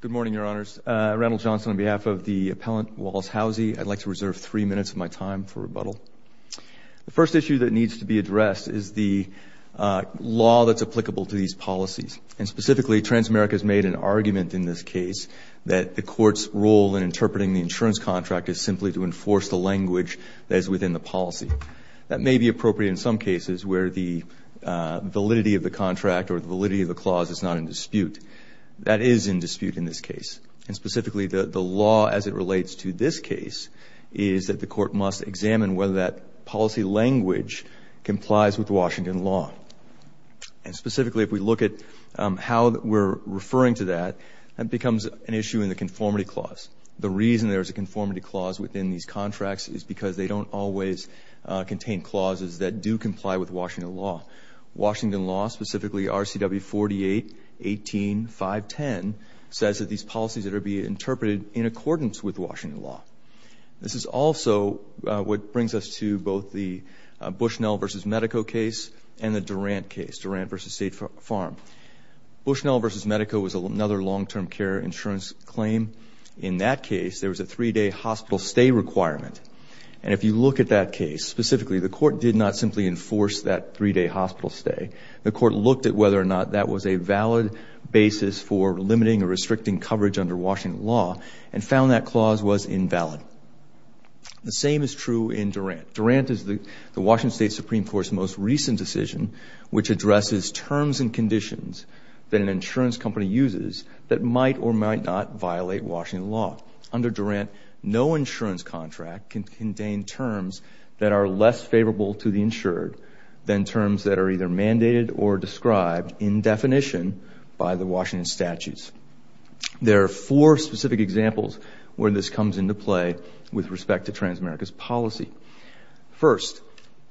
Good morning, Your Honors. Randall Johnson on behalf of the appellant, Wallace Howsey. I'd like to reserve three minutes of my time for rebuttal. The first issue that needs to be addressed is the law that's applicable to these policies. And specifically, Transamerica's made an argument in this case that the court's role in interpreting the insurance contract is simply to enforce the language that is within the policy. That may be appropriate in some cases where the validity of the contract or the validity of the clause is not in dispute. That is in dispute in this case. And specifically, the law as it relates to this case is that the court must examine whether that policy language complies with Washington law. And specifically, if we look at how we're referring to that, that becomes an issue in the conformity clause. The reason there is a conformity clause within these contracts is because they don't always contain clauses that do comply with Washington law. Washington law, specifically RCW 48, 18, 510, says that these policies that are being interpreted in accordance with Washington law. This is also what brings us to both the Bushnell versus Medeco case and the Durant case, Durant versus State Farm. Bushnell versus Medeco was another long-term care insurance claim. In that case, there was a three-day hospital stay requirement. And if you look at that case, specifically, the court did not simply enforce that three-day hospital stay. The court looked at whether or not that was a valid basis for limiting or restricting coverage under Washington law and found that clause was invalid. The same is true in Durant. Durant is the Washington State Supreme Court's most recent decision, which addresses terms and conditions that an insurance company uses that might or might not violate Washington law. Under Durant, no insurance contract can contain terms that are less favorable to the insured than terms that are either mandated or described in definition by the Washington statutes. There are four specific examples where this comes into play with respect to Transamerica's policy. First,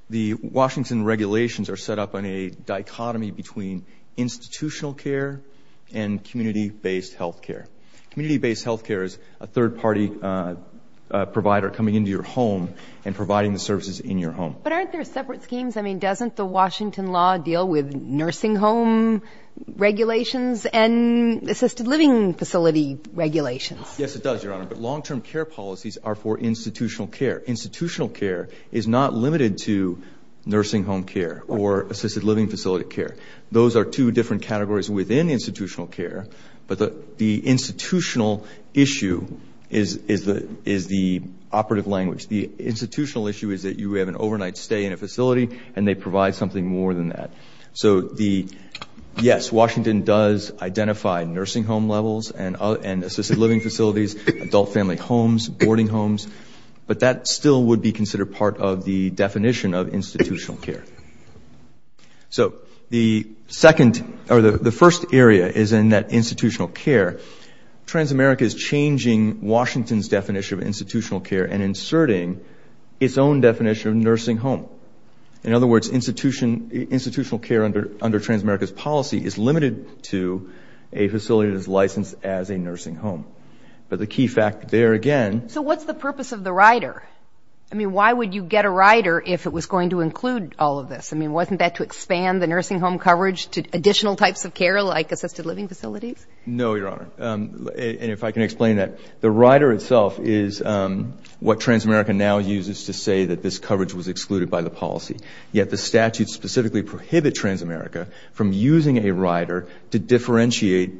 the Washington regulations are set up on a dichotomy between institutional care and community-based health care. Community-based health care is a third-party provider coming into your home and providing the services in your home. But aren't there separate schemes? I mean, doesn't the Washington law deal with nursing home regulations and assisted living facility regulations? Yes, it does, Your Honor. But long-term care policies are for institutional care. Institutional care is not limited to nursing home care or assisted living facility care. Those are two different categories within institutional care. But the institutional issue is the operative language. The institutional issue is that you have an overnight stay in a facility, and they provide something more than that. So yes, Washington does identify nursing home levels and assisted living facilities, adult family homes, boarding homes. But that still would be considered part of the definition of institutional care. So the second or the first area is in that institutional care. Transamerica is changing Washington's definition of institutional care and inserting its own definition of nursing home. In other words, institutional care under Transamerica's policy is limited to a facility that is licensed as a nursing home. But the key fact there again. So what's the purpose of the rider? I mean, why would you get a rider if it was going to include all of this? I mean, wasn't that to expand the nursing home coverage to additional types of care like assisted living facilities? No, Your Honor. And if I can explain that. The rider itself is what Transamerica now uses to say that this coverage was excluded by the policy. Yet the statute specifically prohibit Transamerica from using a rider to differentiate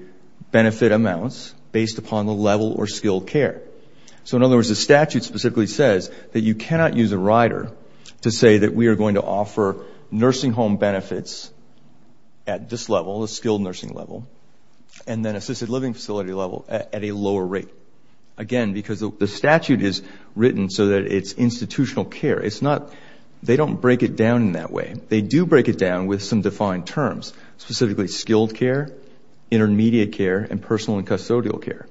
benefit amounts based upon the level or skilled care. So in other words, the statute specifically says that you cannot use a rider to say that we are going to offer nursing home benefits at this level, a skilled nursing level, and then assisted living facility level at a lower rate. Again, because the statute is written so that it's institutional care. They don't break it down in that way. They do break it down with some defined terms, specifically skilled care, intermediate care, and personal and custodial care.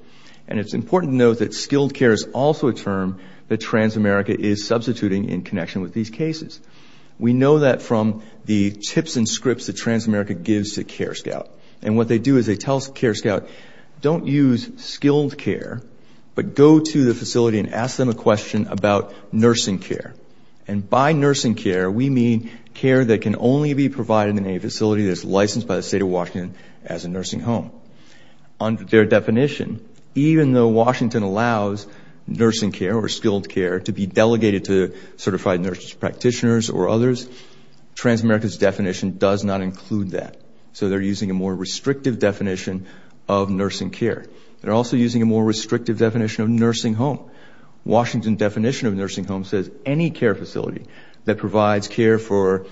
And it's important to note that skilled care is also a term that Transamerica is substituting in connection with these cases. We know that from the tips and scripts that Transamerica gives to CareScout. And what they do is they tell CareScout, don't use skilled care, but go to the facility and ask them a question about nursing care. And by nursing care, we mean care that can only be provided in a facility that's licensed by the state of Washington as a nursing home. Under their definition, even though Washington allows nursing care or skilled care to be delegated to certified nurse practitioners or others, Transamerica's definition does not include that. So they're using a more restrictive definition of nursing care. They're also using a more restrictive definition of nursing home. Washington definition of nursing home says any care facility that provides care for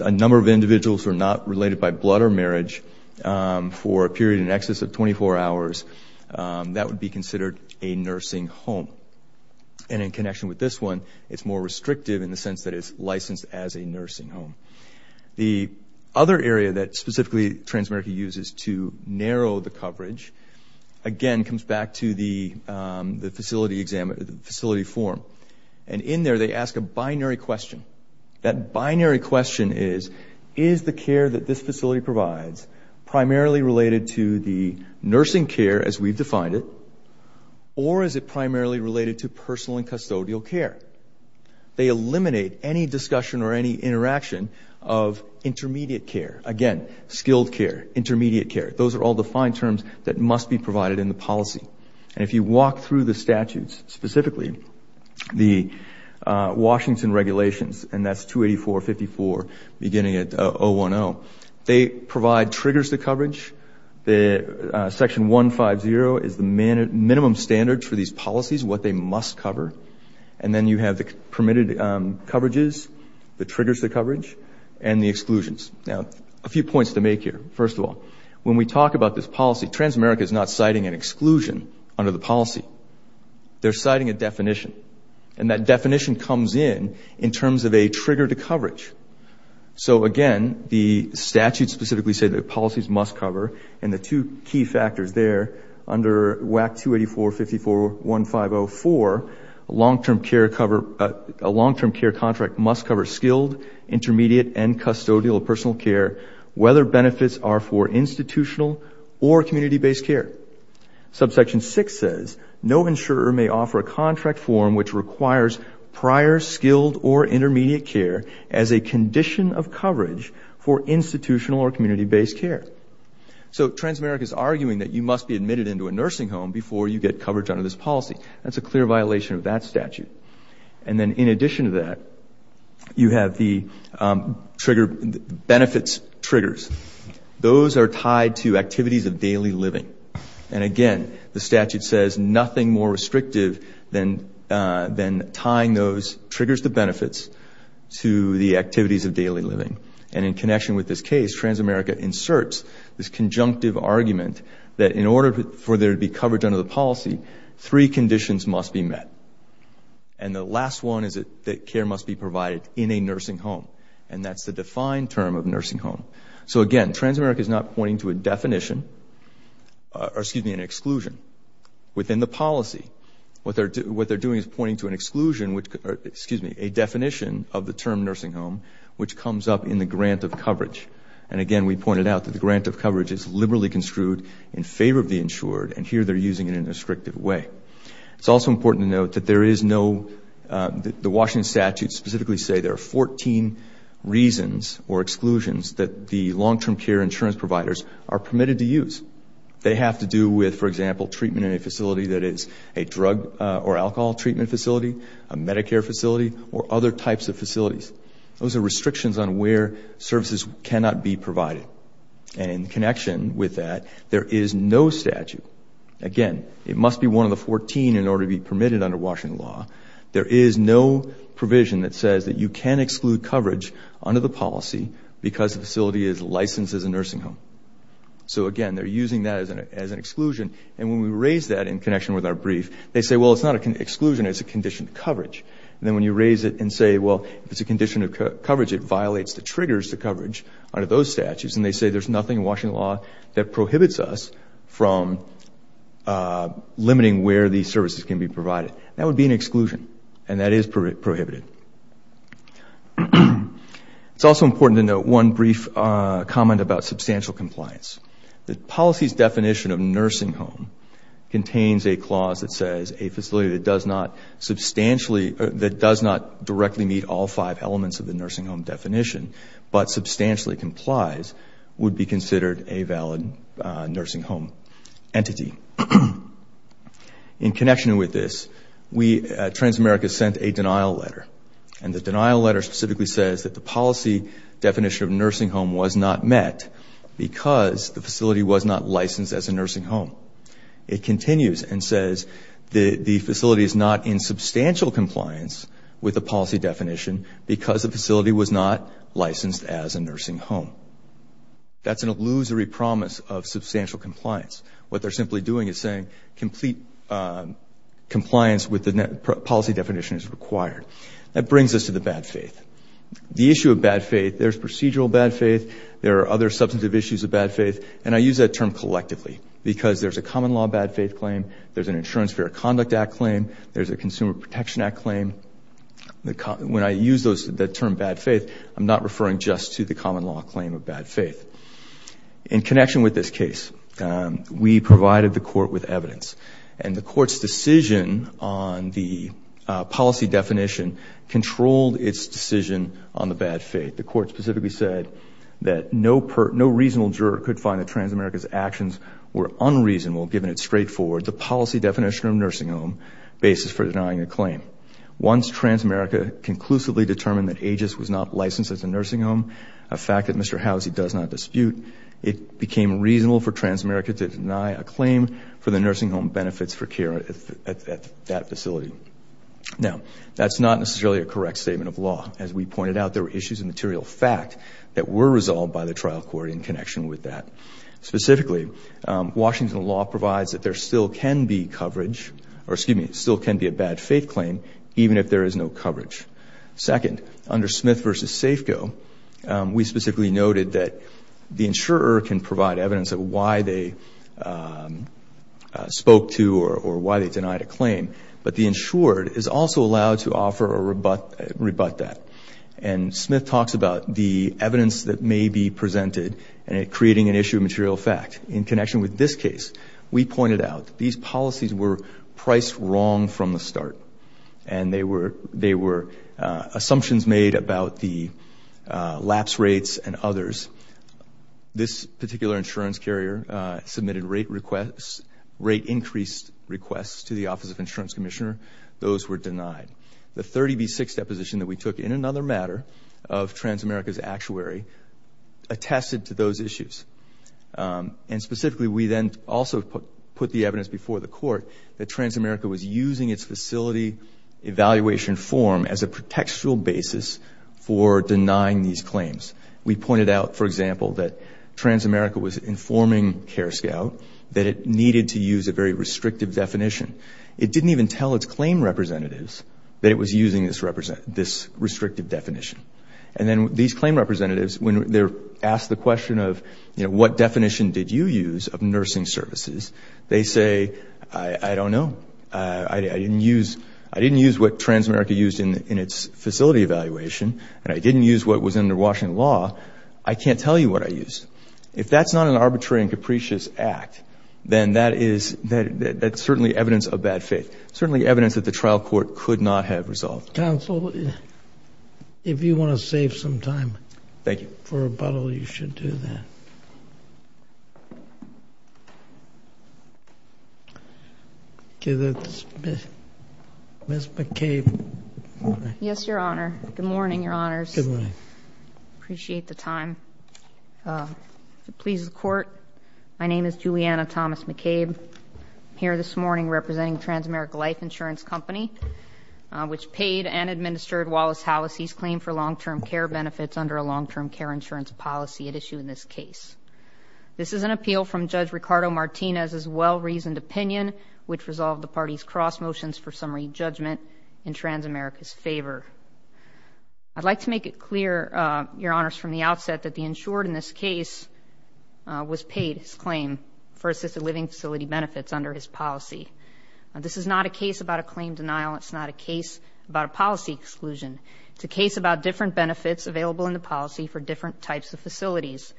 a number of individuals who are not related by blood or marriage for a period in excess of 24 hours, that would be considered a nursing home. And in connection with this one, it's more restrictive in the sense that it's licensed as a nursing home. The other area that specifically Transamerica uses to narrow the coverage, again, comes back to the facility form. And in there, they ask a binary question. That binary question is, is the care that this facility provides primarily related to the nursing care as we've defined it, or is it primarily related to personal and custodial care? They eliminate any discussion or any interaction of intermediate care. Again, skilled care, intermediate care, those are all defined terms that must be provided in the policy. And if you walk through the statutes, specifically the Washington regulations, and that's 284.54 beginning at 010, they provide triggers to coverage. Section 150 is the minimum standards for these policies, what they must cover. And then you have the permitted coverages, the triggers to coverage, and the exclusions. Now, a few points to make here. First of all, when we talk about this policy, Transamerica is not citing an exclusion under the policy. They're citing a definition. And that definition comes in in terms of a trigger to coverage. So again, the statutes specifically say that policies must cover. And the two key factors there, under WAC 284.54.1504, a long-term care contract must cover skilled, intermediate, and custodial personal care, whether benefits are for institutional or community based care. Subsection 6 says, no insurer may offer a contract form which requires prior skilled or intermediate care as a condition of coverage for institutional or community based care. So Transamerica is arguing that you must be admitted into a nursing home before you get coverage under this policy. That's a clear violation of that statute. And then in addition to that, you have the benefits triggers. Those are tied to activities of daily living. And again, the statute says nothing more restrictive than tying those triggers to benefits to the activities of daily living. And in connection with this case, Transamerica inserts this conjunctive argument that in order for there to be coverage under the policy, three conditions must be met. And the last one is that care must be provided in a nursing home. And that's the defined term of nursing home. So again, Transamerica is not pointing to a definition, or excuse me, an exclusion within the policy. What they're doing is pointing to an exclusion, excuse me, a definition of the term nursing home, which comes up in the grant of coverage. And again, we pointed out that the grant of coverage is liberally construed in favor of the insured. And here they're using it in a restrictive way. It's also important to note that there is no, the Washington statute specifically say there are 14 reasons or exclusions that the long term care insurance providers are permitted to use. They have to do with, for example, treatment in a facility that is a drug or alcohol treatment facility, a Medicare facility, or other types of facilities. Those are restrictions on where services cannot be provided. And in connection with that, there is no statute. Again, it must be one of the 14 in order to be permitted under Washington law. There is no provision that says that you can exclude coverage under the policy because the facility is licensed as a nursing home. So again, they're using that as an exclusion. And when we raise that in connection with our brief, they say, well, it's not an exclusion. It's a condition of coverage. And then when you raise it and say, well, it's a condition of coverage, it violates the triggers to coverage under those statutes. And they say there's nothing in Washington law that prohibits us from limiting where these services can be provided. That would be an exclusion. And that is prohibited. It's also important to note one brief comment about substantial compliance. The policy's definition of nursing home contains a clause that says a facility that does not directly meet all five elements of the nursing home definition but substantially complies would be considered a valid nursing home entity. In connection with this, Transamerica sent a denial letter. And the denial letter specifically says that the policy definition of nursing home was not met because the facility was not licensed as a nursing home. It continues and says the facility is not in substantial compliance with the policy definition because the facility was not licensed as a nursing home. That's an illusory promise of substantial compliance. What they're simply doing is saying complete compliance with the policy definition is required. That brings us to the bad faith. The issue of bad faith, there's procedural bad faith. There are other substantive issues of bad faith. And I use that term collectively because there's a common law bad faith claim. There's an Insurance Fair Conduct Act claim. There's a Consumer Protection Act claim. When I use the term bad faith, I'm not referring just to the common law claim of bad faith. In connection with this case, we provided the court with evidence. And the court's decision on the policy definition controlled its decision on the bad faith. The court specifically said that no reasonable juror could find that Transamerica's actions were unreasonable given its straightforward, the policy definition of nursing home basis for denying a claim. Once Transamerica conclusively determined that Aegis was not licensed as a nursing home, a fact that Mr. Howsey does not dispute, it became reasonable for Transamerica to deny a claim for the nursing home benefits for care at that facility. Now, that's not necessarily a correct statement of law. As we pointed out, there were issues of material fact that were resolved by the trial court in connection with that. Specifically, Washington law provides that there still can be coverage, or excuse me, still can be a bad faith claim even if there is no coverage. Second, under Smith v. Safeco, we specifically noted that the insurer can provide evidence of why they spoke to or why they denied a claim. But the insured is also allowed to offer or rebut that. And Smith talks about the evidence that may be presented. And it creating an issue of material fact. In connection with this case, we pointed out that these policies were priced wrong from the start. And they were assumptions made about the lapse rates and others. This particular insurance carrier submitted rate increased requests to the Office of Insurance Commissioner. Those were denied. The 30B6 deposition that we took in another matter of Transamerica's actuary attested to those issues. And specifically, we then also put the evidence before the court that Transamerica was using its facility evaluation form as a contextual basis for denying these claims. We pointed out, for example, that Transamerica was informing CareScout that it needed to use a very restrictive definition. It didn't even tell its claim representatives that it was using this restrictive definition. And then these claim representatives, when they're asked the question of, what definition did you use of nursing services? They say, I don't know. I didn't use what Transamerica used in its facility evaluation. And I didn't use what was under Washington law. I can't tell you what I used. If that's not an arbitrary and capricious act, then that's certainly evidence of bad faith. Certainly evidence that the trial court could not have resolved. Counsel, if you want to save some time for rebuttal, you should do that. Ms. McCabe. Yes, Your Honor. Good morning, Your Honors. Good morning. Appreciate the time. Please, the court. My name is Juliana Thomas McCabe. Here this morning representing Transamerica Life Insurance Company, which paid and administered Wallace Hallisey's claim for long-term care benefits under a long-term care insurance policy at issue in this case. This is an appeal from Judge Ricardo Martinez's well-reasoned opinion, which resolved the party's cross motions for summary judgment in Transamerica's favor. I'd like to make it clear, Your Honors, from the outset that the insured in this case was paid his claim for assisted living facility benefits under his policy. This is not a case about a claim denial. It's not a case about a policy exclusion. It's a case about different benefits available in the policy for different types of facilities.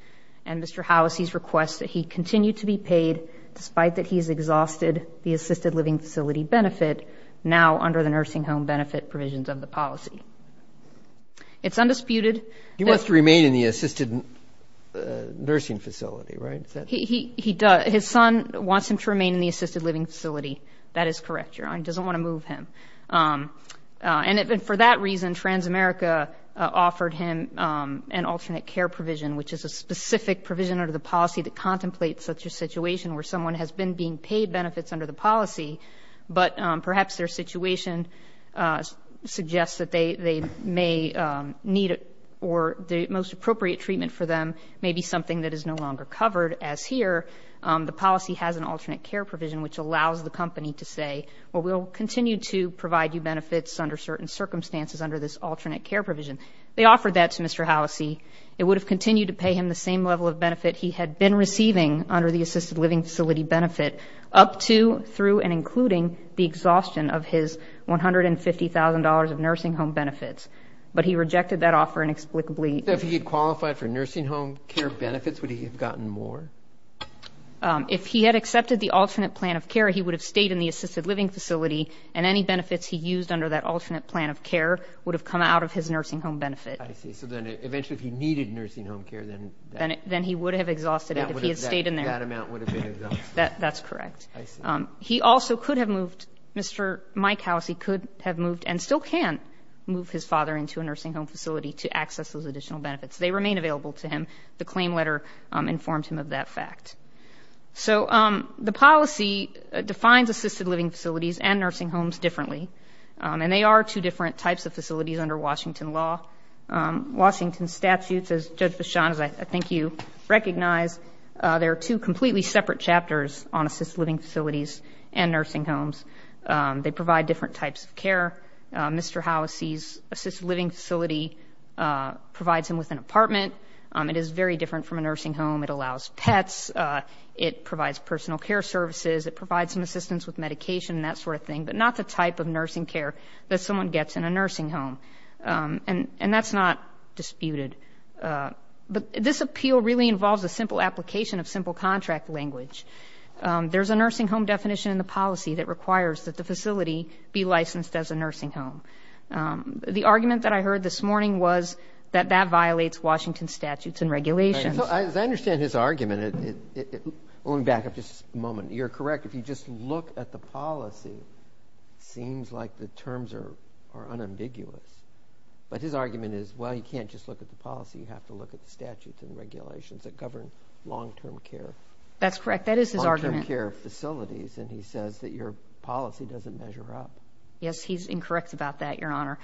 And Mr. Hallisey's request that he continue to be paid despite that he's exhausted the assisted living facility benefit now under the nursing home benefit provisions of the policy. It's undisputed. He wants to remain in the assisted nursing facility, right? He does. His son wants him to remain in the assisted living facility. That is correct, Your Honor. He doesn't want to move him. And for that reason, Transamerica offered him an alternate care provision, which is a specific provision under the policy that contemplates such a situation where someone has been being paid benefits under the policy, but perhaps their situation suggests that they may need, or the most appropriate treatment for them may be something that is no longer covered. As here, the policy has an alternate care provision, which allows the company to say, well, we'll continue to provide you benefits under certain circumstances under this alternate care provision. They offered that to Mr. Hallisey. It would have continued to pay him the same level of benefit he had been receiving under the assisted living facility benefit up to, through, and including the exhaustion of his $150,000 of nursing home benefits, but he rejected that offer inexplicably. If he had qualified for nursing home care benefits, would he have gotten more? If he had accepted the alternate plan of care, he would have stayed in the assisted living facility, and any benefits he used under that alternate plan of care would have come out of his nursing home benefit. I see. So then eventually, if he needed nursing home care, then that- Then he would have exhausted it if he had stayed in there. That amount would have been exhausted. That's correct. I see. He also could have moved, Mr. Mike Hallisey could have moved, and still can move his father into a nursing home facility to access those additional benefits. They remain available to him. The claim letter informed him of that fact. So the policy defines assisted living facilities and nursing homes differently, and they are two different types of facilities under Washington law. Washington statutes, as Judge Vachon, as I think you recognize, there are two completely separate chapters on assisted living facilities and nursing homes. They provide different types of care. Mr. Hallisey's assisted living facility provides him with an apartment. It is very different from a nursing home. It allows pets. It provides personal care services. It provides some assistance with medication, and that sort of thing, but not the type of nursing care that someone gets in a nursing home. And that's not disputed. But this appeal really involves a simple application of simple contract language. There's a nursing home definition in the policy that requires that the facility be licensed as a nursing home. The argument that I heard this morning was that that violates Washington statutes and regulations. So as I understand his argument, let me back up just a moment. You're correct. If you just look at the policy, seems like the terms are unambiguous. But his argument is, well, you can't just look at the policy. You have to look at the statutes and regulations that govern long-term care. That's correct. That is his argument. Long-term care facilities. And he says that your policy doesn't measure up. Yes, he's incorrect about that, Your Honor.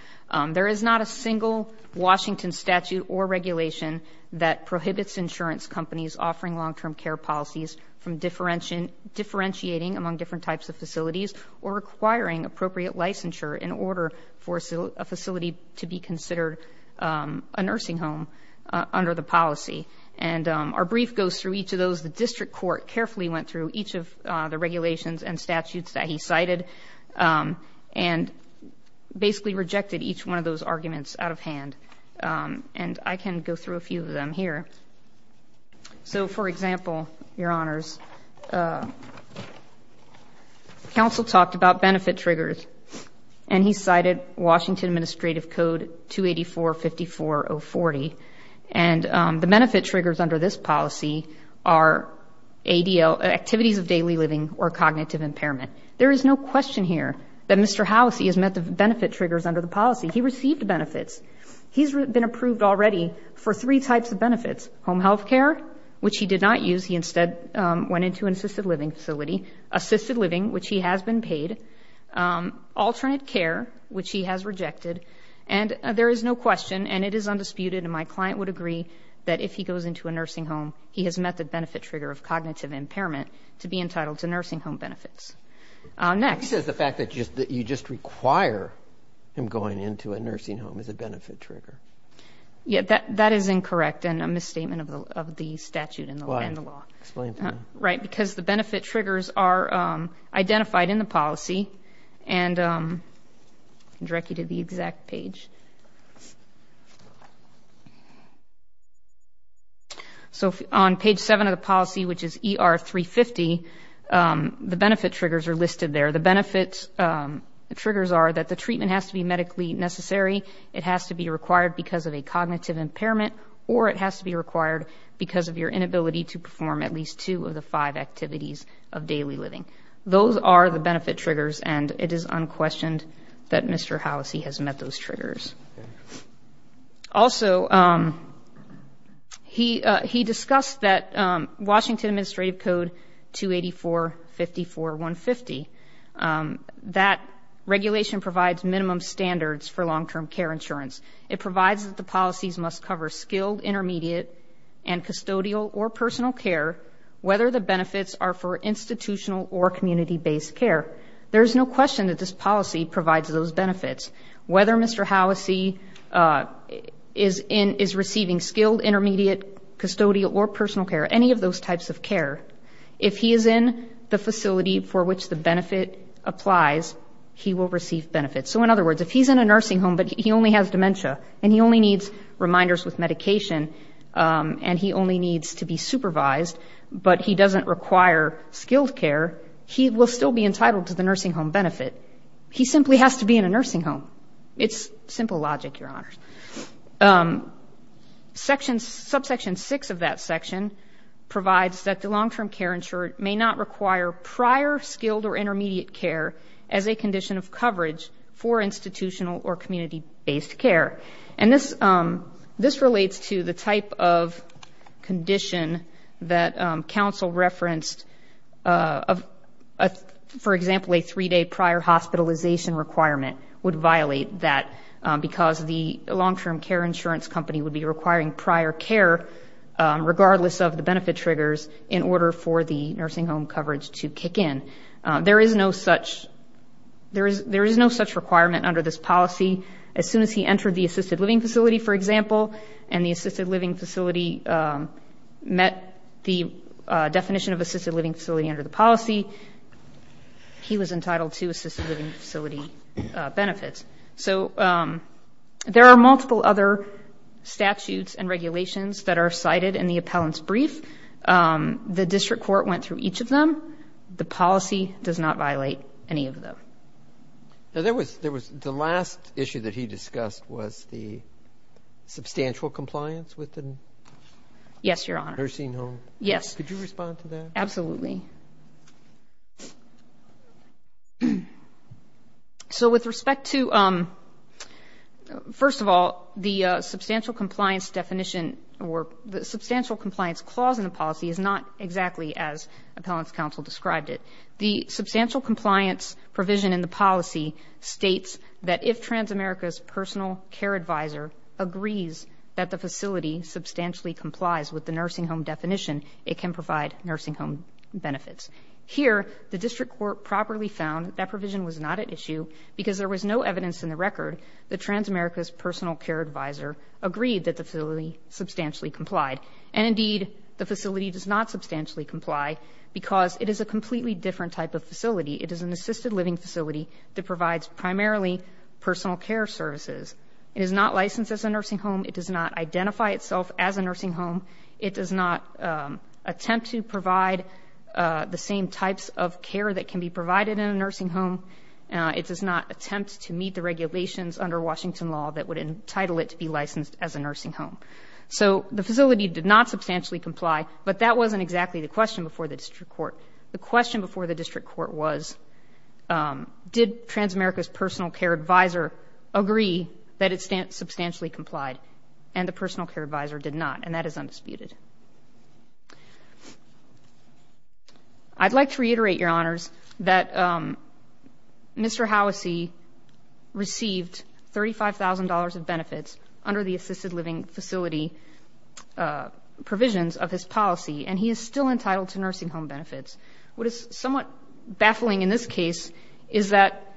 There is not a single Washington statute or regulation that prohibits insurance companies offering long-term care policies from differentiating among different types of facilities or requiring appropriate licensure in order for a facility to be considered a nursing home under the policy. And our brief goes through each of those. The district court carefully went through each of the regulations and statutes that he cited and basically rejected each one of those arguments out of hand. And I can go through a few of them here. So for example, Your Honors, counsel talked about benefit triggers and he cited Washington Administrative Code 284-54040. And the benefit triggers under this policy are activities of daily living or cognitive impairment. There is no question here that Mr. Halassie has met the benefit triggers under the policy. He received benefits. He's been approved already for three types of benefits. Home health care, which he did not use. He instead went into an assisted living facility. Assisted living, which he has been paid. Alternate care, which he has rejected. And there is no question, and it is undisputed and my client would agree that if he goes into a nursing home, he has met the benefit trigger of cognitive impairment to be entitled to nursing home benefits. Next. He says the fact that you just require him going into a nursing home is a benefit trigger. Yeah, that is incorrect and a misstatement of the statute and the law. Explain to me. Right, because the benefit triggers are identified in the policy. And I can direct you to the exact page. So on page seven of the policy, which is ER 350, the benefit triggers are listed there. The benefit triggers are that the treatment has to be medically necessary. It has to be required because of a cognitive impairment or it has to be required because of your inability to perform at least two of the five activities of daily living. Those are the benefit triggers and it is unquestioned that Mr. Halassie has met those triggers. Okay. Also, he discussed that Washington Administrative Code 284-54-150, that regulation provides minimum standards for long-term care insurance. It provides that the policies must cover skilled, intermediate, and custodial or personal care, whether the benefits are for institutional or community-based care. There is no question that this policy provides those benefits. Whether Mr. Halassie is receiving skilled, intermediate, custodial, or personal care, any of those types of care, if he is in the facility for which the benefit applies, he will receive benefits. So in other words, if he's in a nursing home but he only has dementia and he only needs reminders with medication and he only needs to be supervised, but he doesn't require skilled care, he will still be entitled to the nursing home benefit. He simply has to be in a nursing home. It's simple logic, Your Honors. Section, subsection six of that section provides that the long-term care insured may not require prior skilled or intermediate care as a condition of coverage for institutional or community-based care. And this relates to the type of condition that counsel referenced, for example, a three-day prior hospitalization requirement would violate that because the long-term care insurance company would be requiring prior care regardless of the benefit triggers in order for the nursing home coverage to kick in. There is no such requirement under this policy. As soon as he entered the assisted living facility, for example, and the assisted living facility met the definition of assisted living facility under the policy, he was entitled to assisted living facility benefits. So there are multiple other statutes and regulations that are cited in the appellant's brief. The district court went through each of them. The policy does not violate any of them. Now, there was, the last issue that he discussed was the substantial compliance with the nursing home. Yes, Your Honor. Could you respond to that? Absolutely. So with respect to, first of all, the substantial compliance definition or the substantial compliance clause in the policy is not exactly as appellant's counsel described it. The substantial compliance provision in the policy states that if Transamerica's personal care advisor agrees that the facility substantially complies with the nursing home definition, it can provide nursing home benefits. Here, the district court properly found that provision was not at issue because there was no evidence in the record that Transamerica's personal care advisor agreed that the facility substantially complied. And indeed, the facility does not substantially comply because it is a completely different type of facility. It is an assisted living facility that provides primarily personal care services. It is not licensed as a nursing home. It does not identify itself as a nursing home. It does not attempt to provide the same types of care that can be provided in a nursing home. It does not attempt to meet the regulations under Washington law that would entitle it to be licensed as a nursing home. So the facility did not substantially comply, but that wasn't exactly the question before the district court. The question before the district court was, did Transamerica's personal care advisor agree that it substantially complied? And the personal care advisor did not. And that is undisputed. I'd like to reiterate, your honors, that Mr. Howise received $35,000 of benefits under the assisted living facility provisions of his policy. And he is still entitled to nursing home benefits. What is somewhat baffling in this case is that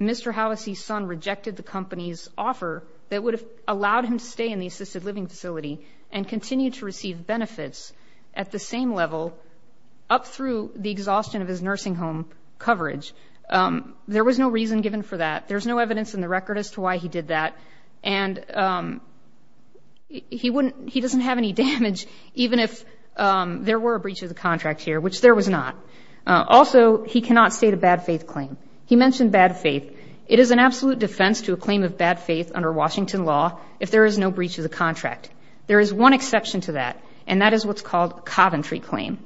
Mr. Howise's son rejected the company's offer that would have allowed him to stay in the assisted living facility and continue to receive benefits at the same level up through the exhaustion of his nursing home coverage. There was no reason given for that. There's no evidence in the record as to why he did that. And he doesn't have any damage, even if there were a breach of the contract here, which there was not. Also, he cannot state a bad faith claim. He mentioned bad faith. It is an absolute defense to a claim of bad faith under Washington law, if there is no breach of the contract. There is one exception to that, and that is what's called Coventry claim.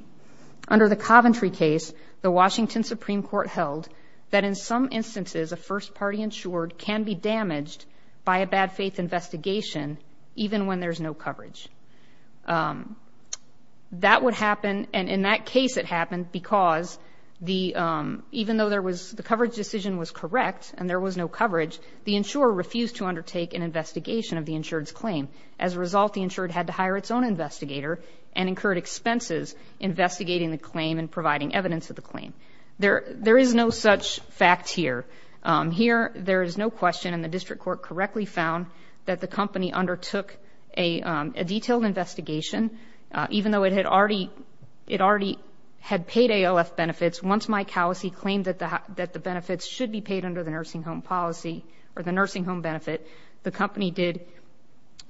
Under the Coventry case, the Washington Supreme Court held that in some instances, a first party insured can be damaged by a bad faith investigation, even when there's no coverage. That would happen, and in that case it happened because even though the coverage decision was correct and there was no coverage, the insurer refused to undertake an investigation of the insured's claim. As a result, the insured had to hire its own investigator and incurred expenses investigating the claim and providing evidence of the claim. There is no such fact here. Here, there is no question, and the district court correctly found that the company undertook a detailed investigation, even though it already had paid ALF benefits once Mike Howesey claimed that the benefits should be paid under the nursing home policy or the nursing home benefit. The company did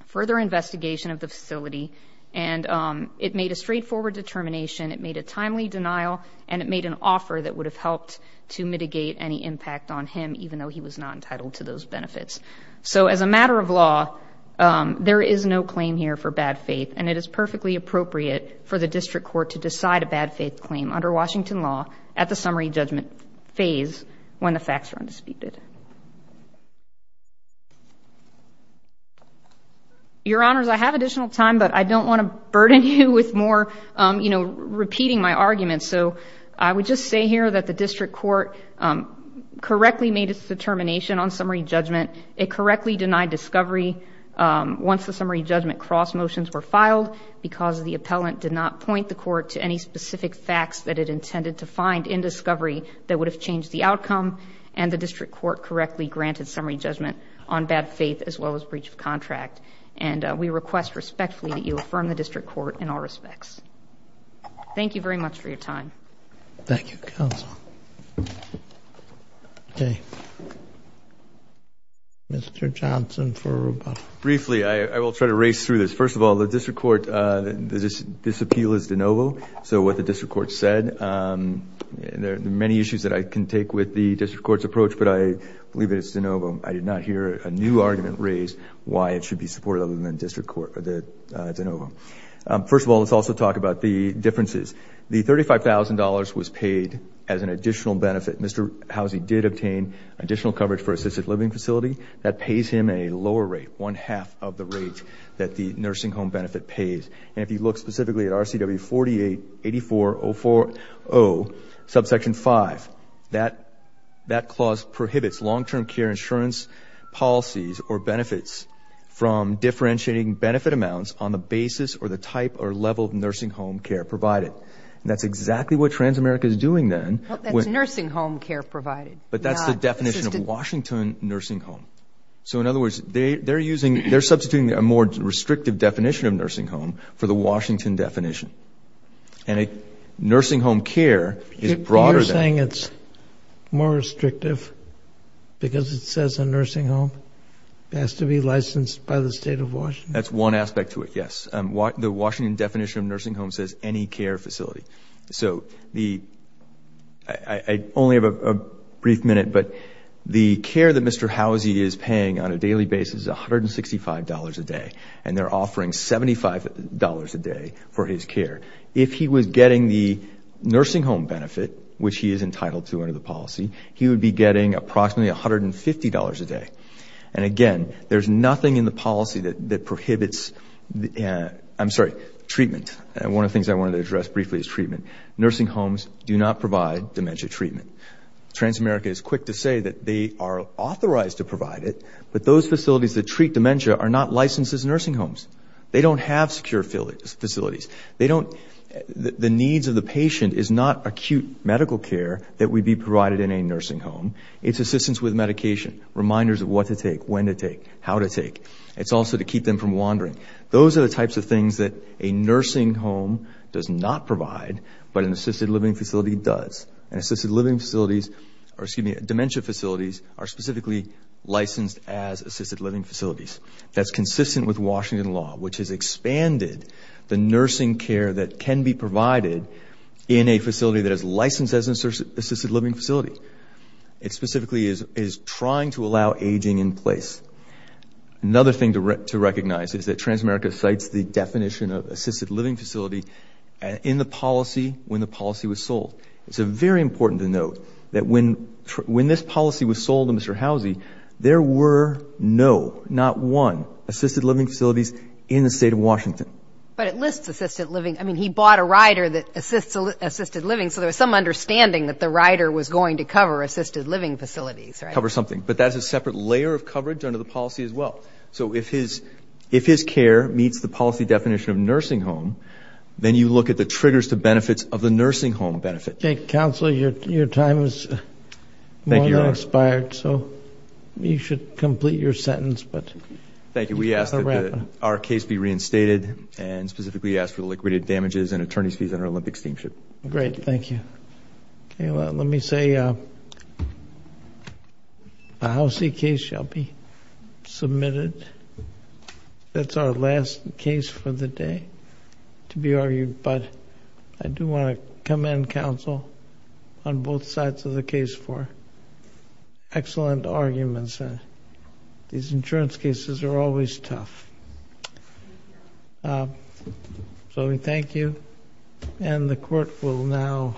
further investigation of the facility, and it made a straightforward determination. It made a timely denial, and it made an offer that would have helped to mitigate any impact on him, even though he was not entitled to those benefits. So as a matter of law, there is no claim here for bad faith, and it is perfectly appropriate for the district court to decide a bad faith claim under Washington law at the summary judgment phase when the facts are undisputed. Your honors, I have additional time, but I don't wanna burden you with more, you know, repeating my arguments. So I would just say here that the district court correctly made its determination on summary judgment. It correctly denied discovery once the summary judgment cross motions were filed because the appellant did not point the court to any specific facts that it intended to find in discovery that would have changed the outcome, and the district court correctly granted summary judgment on bad faith as well as breach of contract. And we request respectfully that you affirm the district court in all respects. Thank you very much for your time. Thank you, counsel. Okay. Mr. Johnson for rebuttal. Briefly, I will try to race through this. First of all, the district court, this appeal is de novo. So what the district court said, and there are many issues that I can take with the district court's approach, but I believe it's de novo. I did not hear a new argument raised why it should be supported other than district court, or the de novo. First of all, let's also talk about the differences. The $35,000 was paid as an additional benefit. Mr. Howsey did obtain additional coverage for assisted living facility. That pays him a lower rate, one half of the rate that the nursing home benefit pays. And if you look specifically at RCW 48-8404-0, subsection five, that clause prohibits long-term care insurance policies or benefits from differentiating benefit amounts on the basis or the type or level of nursing home care provided. That's exactly what Transamerica is doing then. Well, that's nursing home care provided. But that's the definition of Washington nursing home. So in other words, they're substituting a more restrictive definition of nursing home for the Washington definition. And nursing home care is broader than that. You're saying it's more restrictive because it says a nursing home has to be licensed by the state of Washington? That's one aspect to it, yes. The Washington definition of nursing home says any care facility. So I only have a brief minute, but the care that Mr. Howsey is paying on a daily basis is $165 a day, and they're offering $75 a day for his care. If he was getting the nursing home benefit, which he is entitled to under the policy, he would be getting approximately $150 a day. And again, there's nothing in the policy that prohibits, I'm sorry, treatment. And one of the things I wanted to address briefly is treatment. Nursing homes do not provide dementia treatment. Transamerica is quick to say that they are authorized to provide it, but those facilities that treat dementia are not licensed as nursing homes. They don't have secure facilities. The needs of the patient is not acute medical care that would be provided in a nursing home. It's assistance with medication, reminders of what to take, when to take, how to take. It's also to keep them from wandering. Those are the types of things that a nursing home does not provide, but an assisted living facility does. And assisted living facilities, or excuse me, licensed as assisted living facilities. That's consistent with Washington law, which has expanded the nursing care that can be provided in a facility that is licensed as an assisted living facility. It specifically is trying to allow aging in place. Another thing to recognize is that Transamerica cites the definition of assisted living facility in the policy when the policy was sold. It's very important to note that when this policy was sold to Mr. Housy, there were no, not one, assisted living facilities in the state of Washington. But it lists assisted living. I mean, he bought a rider that assists assisted living, so there was some understanding that the rider was going to cover assisted living facilities, right? Cover something, but that's a separate layer of coverage under the policy as well. So if his care meets the policy definition of nursing home, then you look at the triggers to benefits of the nursing home benefit. Okay, counsel, your time is more than expired, so you should complete your sentence, but. Thank you, we ask that our case be reinstated and specifically ask for the liquidated damages and attorney's fees on our Olympics team ship. Great, thank you. Okay, well, let me say a Housy case shall be submitted. That's our last case for the day to be argued, but I do want to commend counsel on both sides of the case for excellent arguments. These insurance cases are always tough. So we thank you, and the court will now,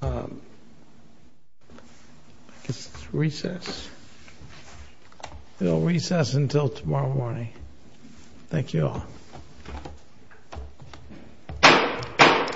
I guess it's recess. We'll recess until tomorrow morning. Thank you all.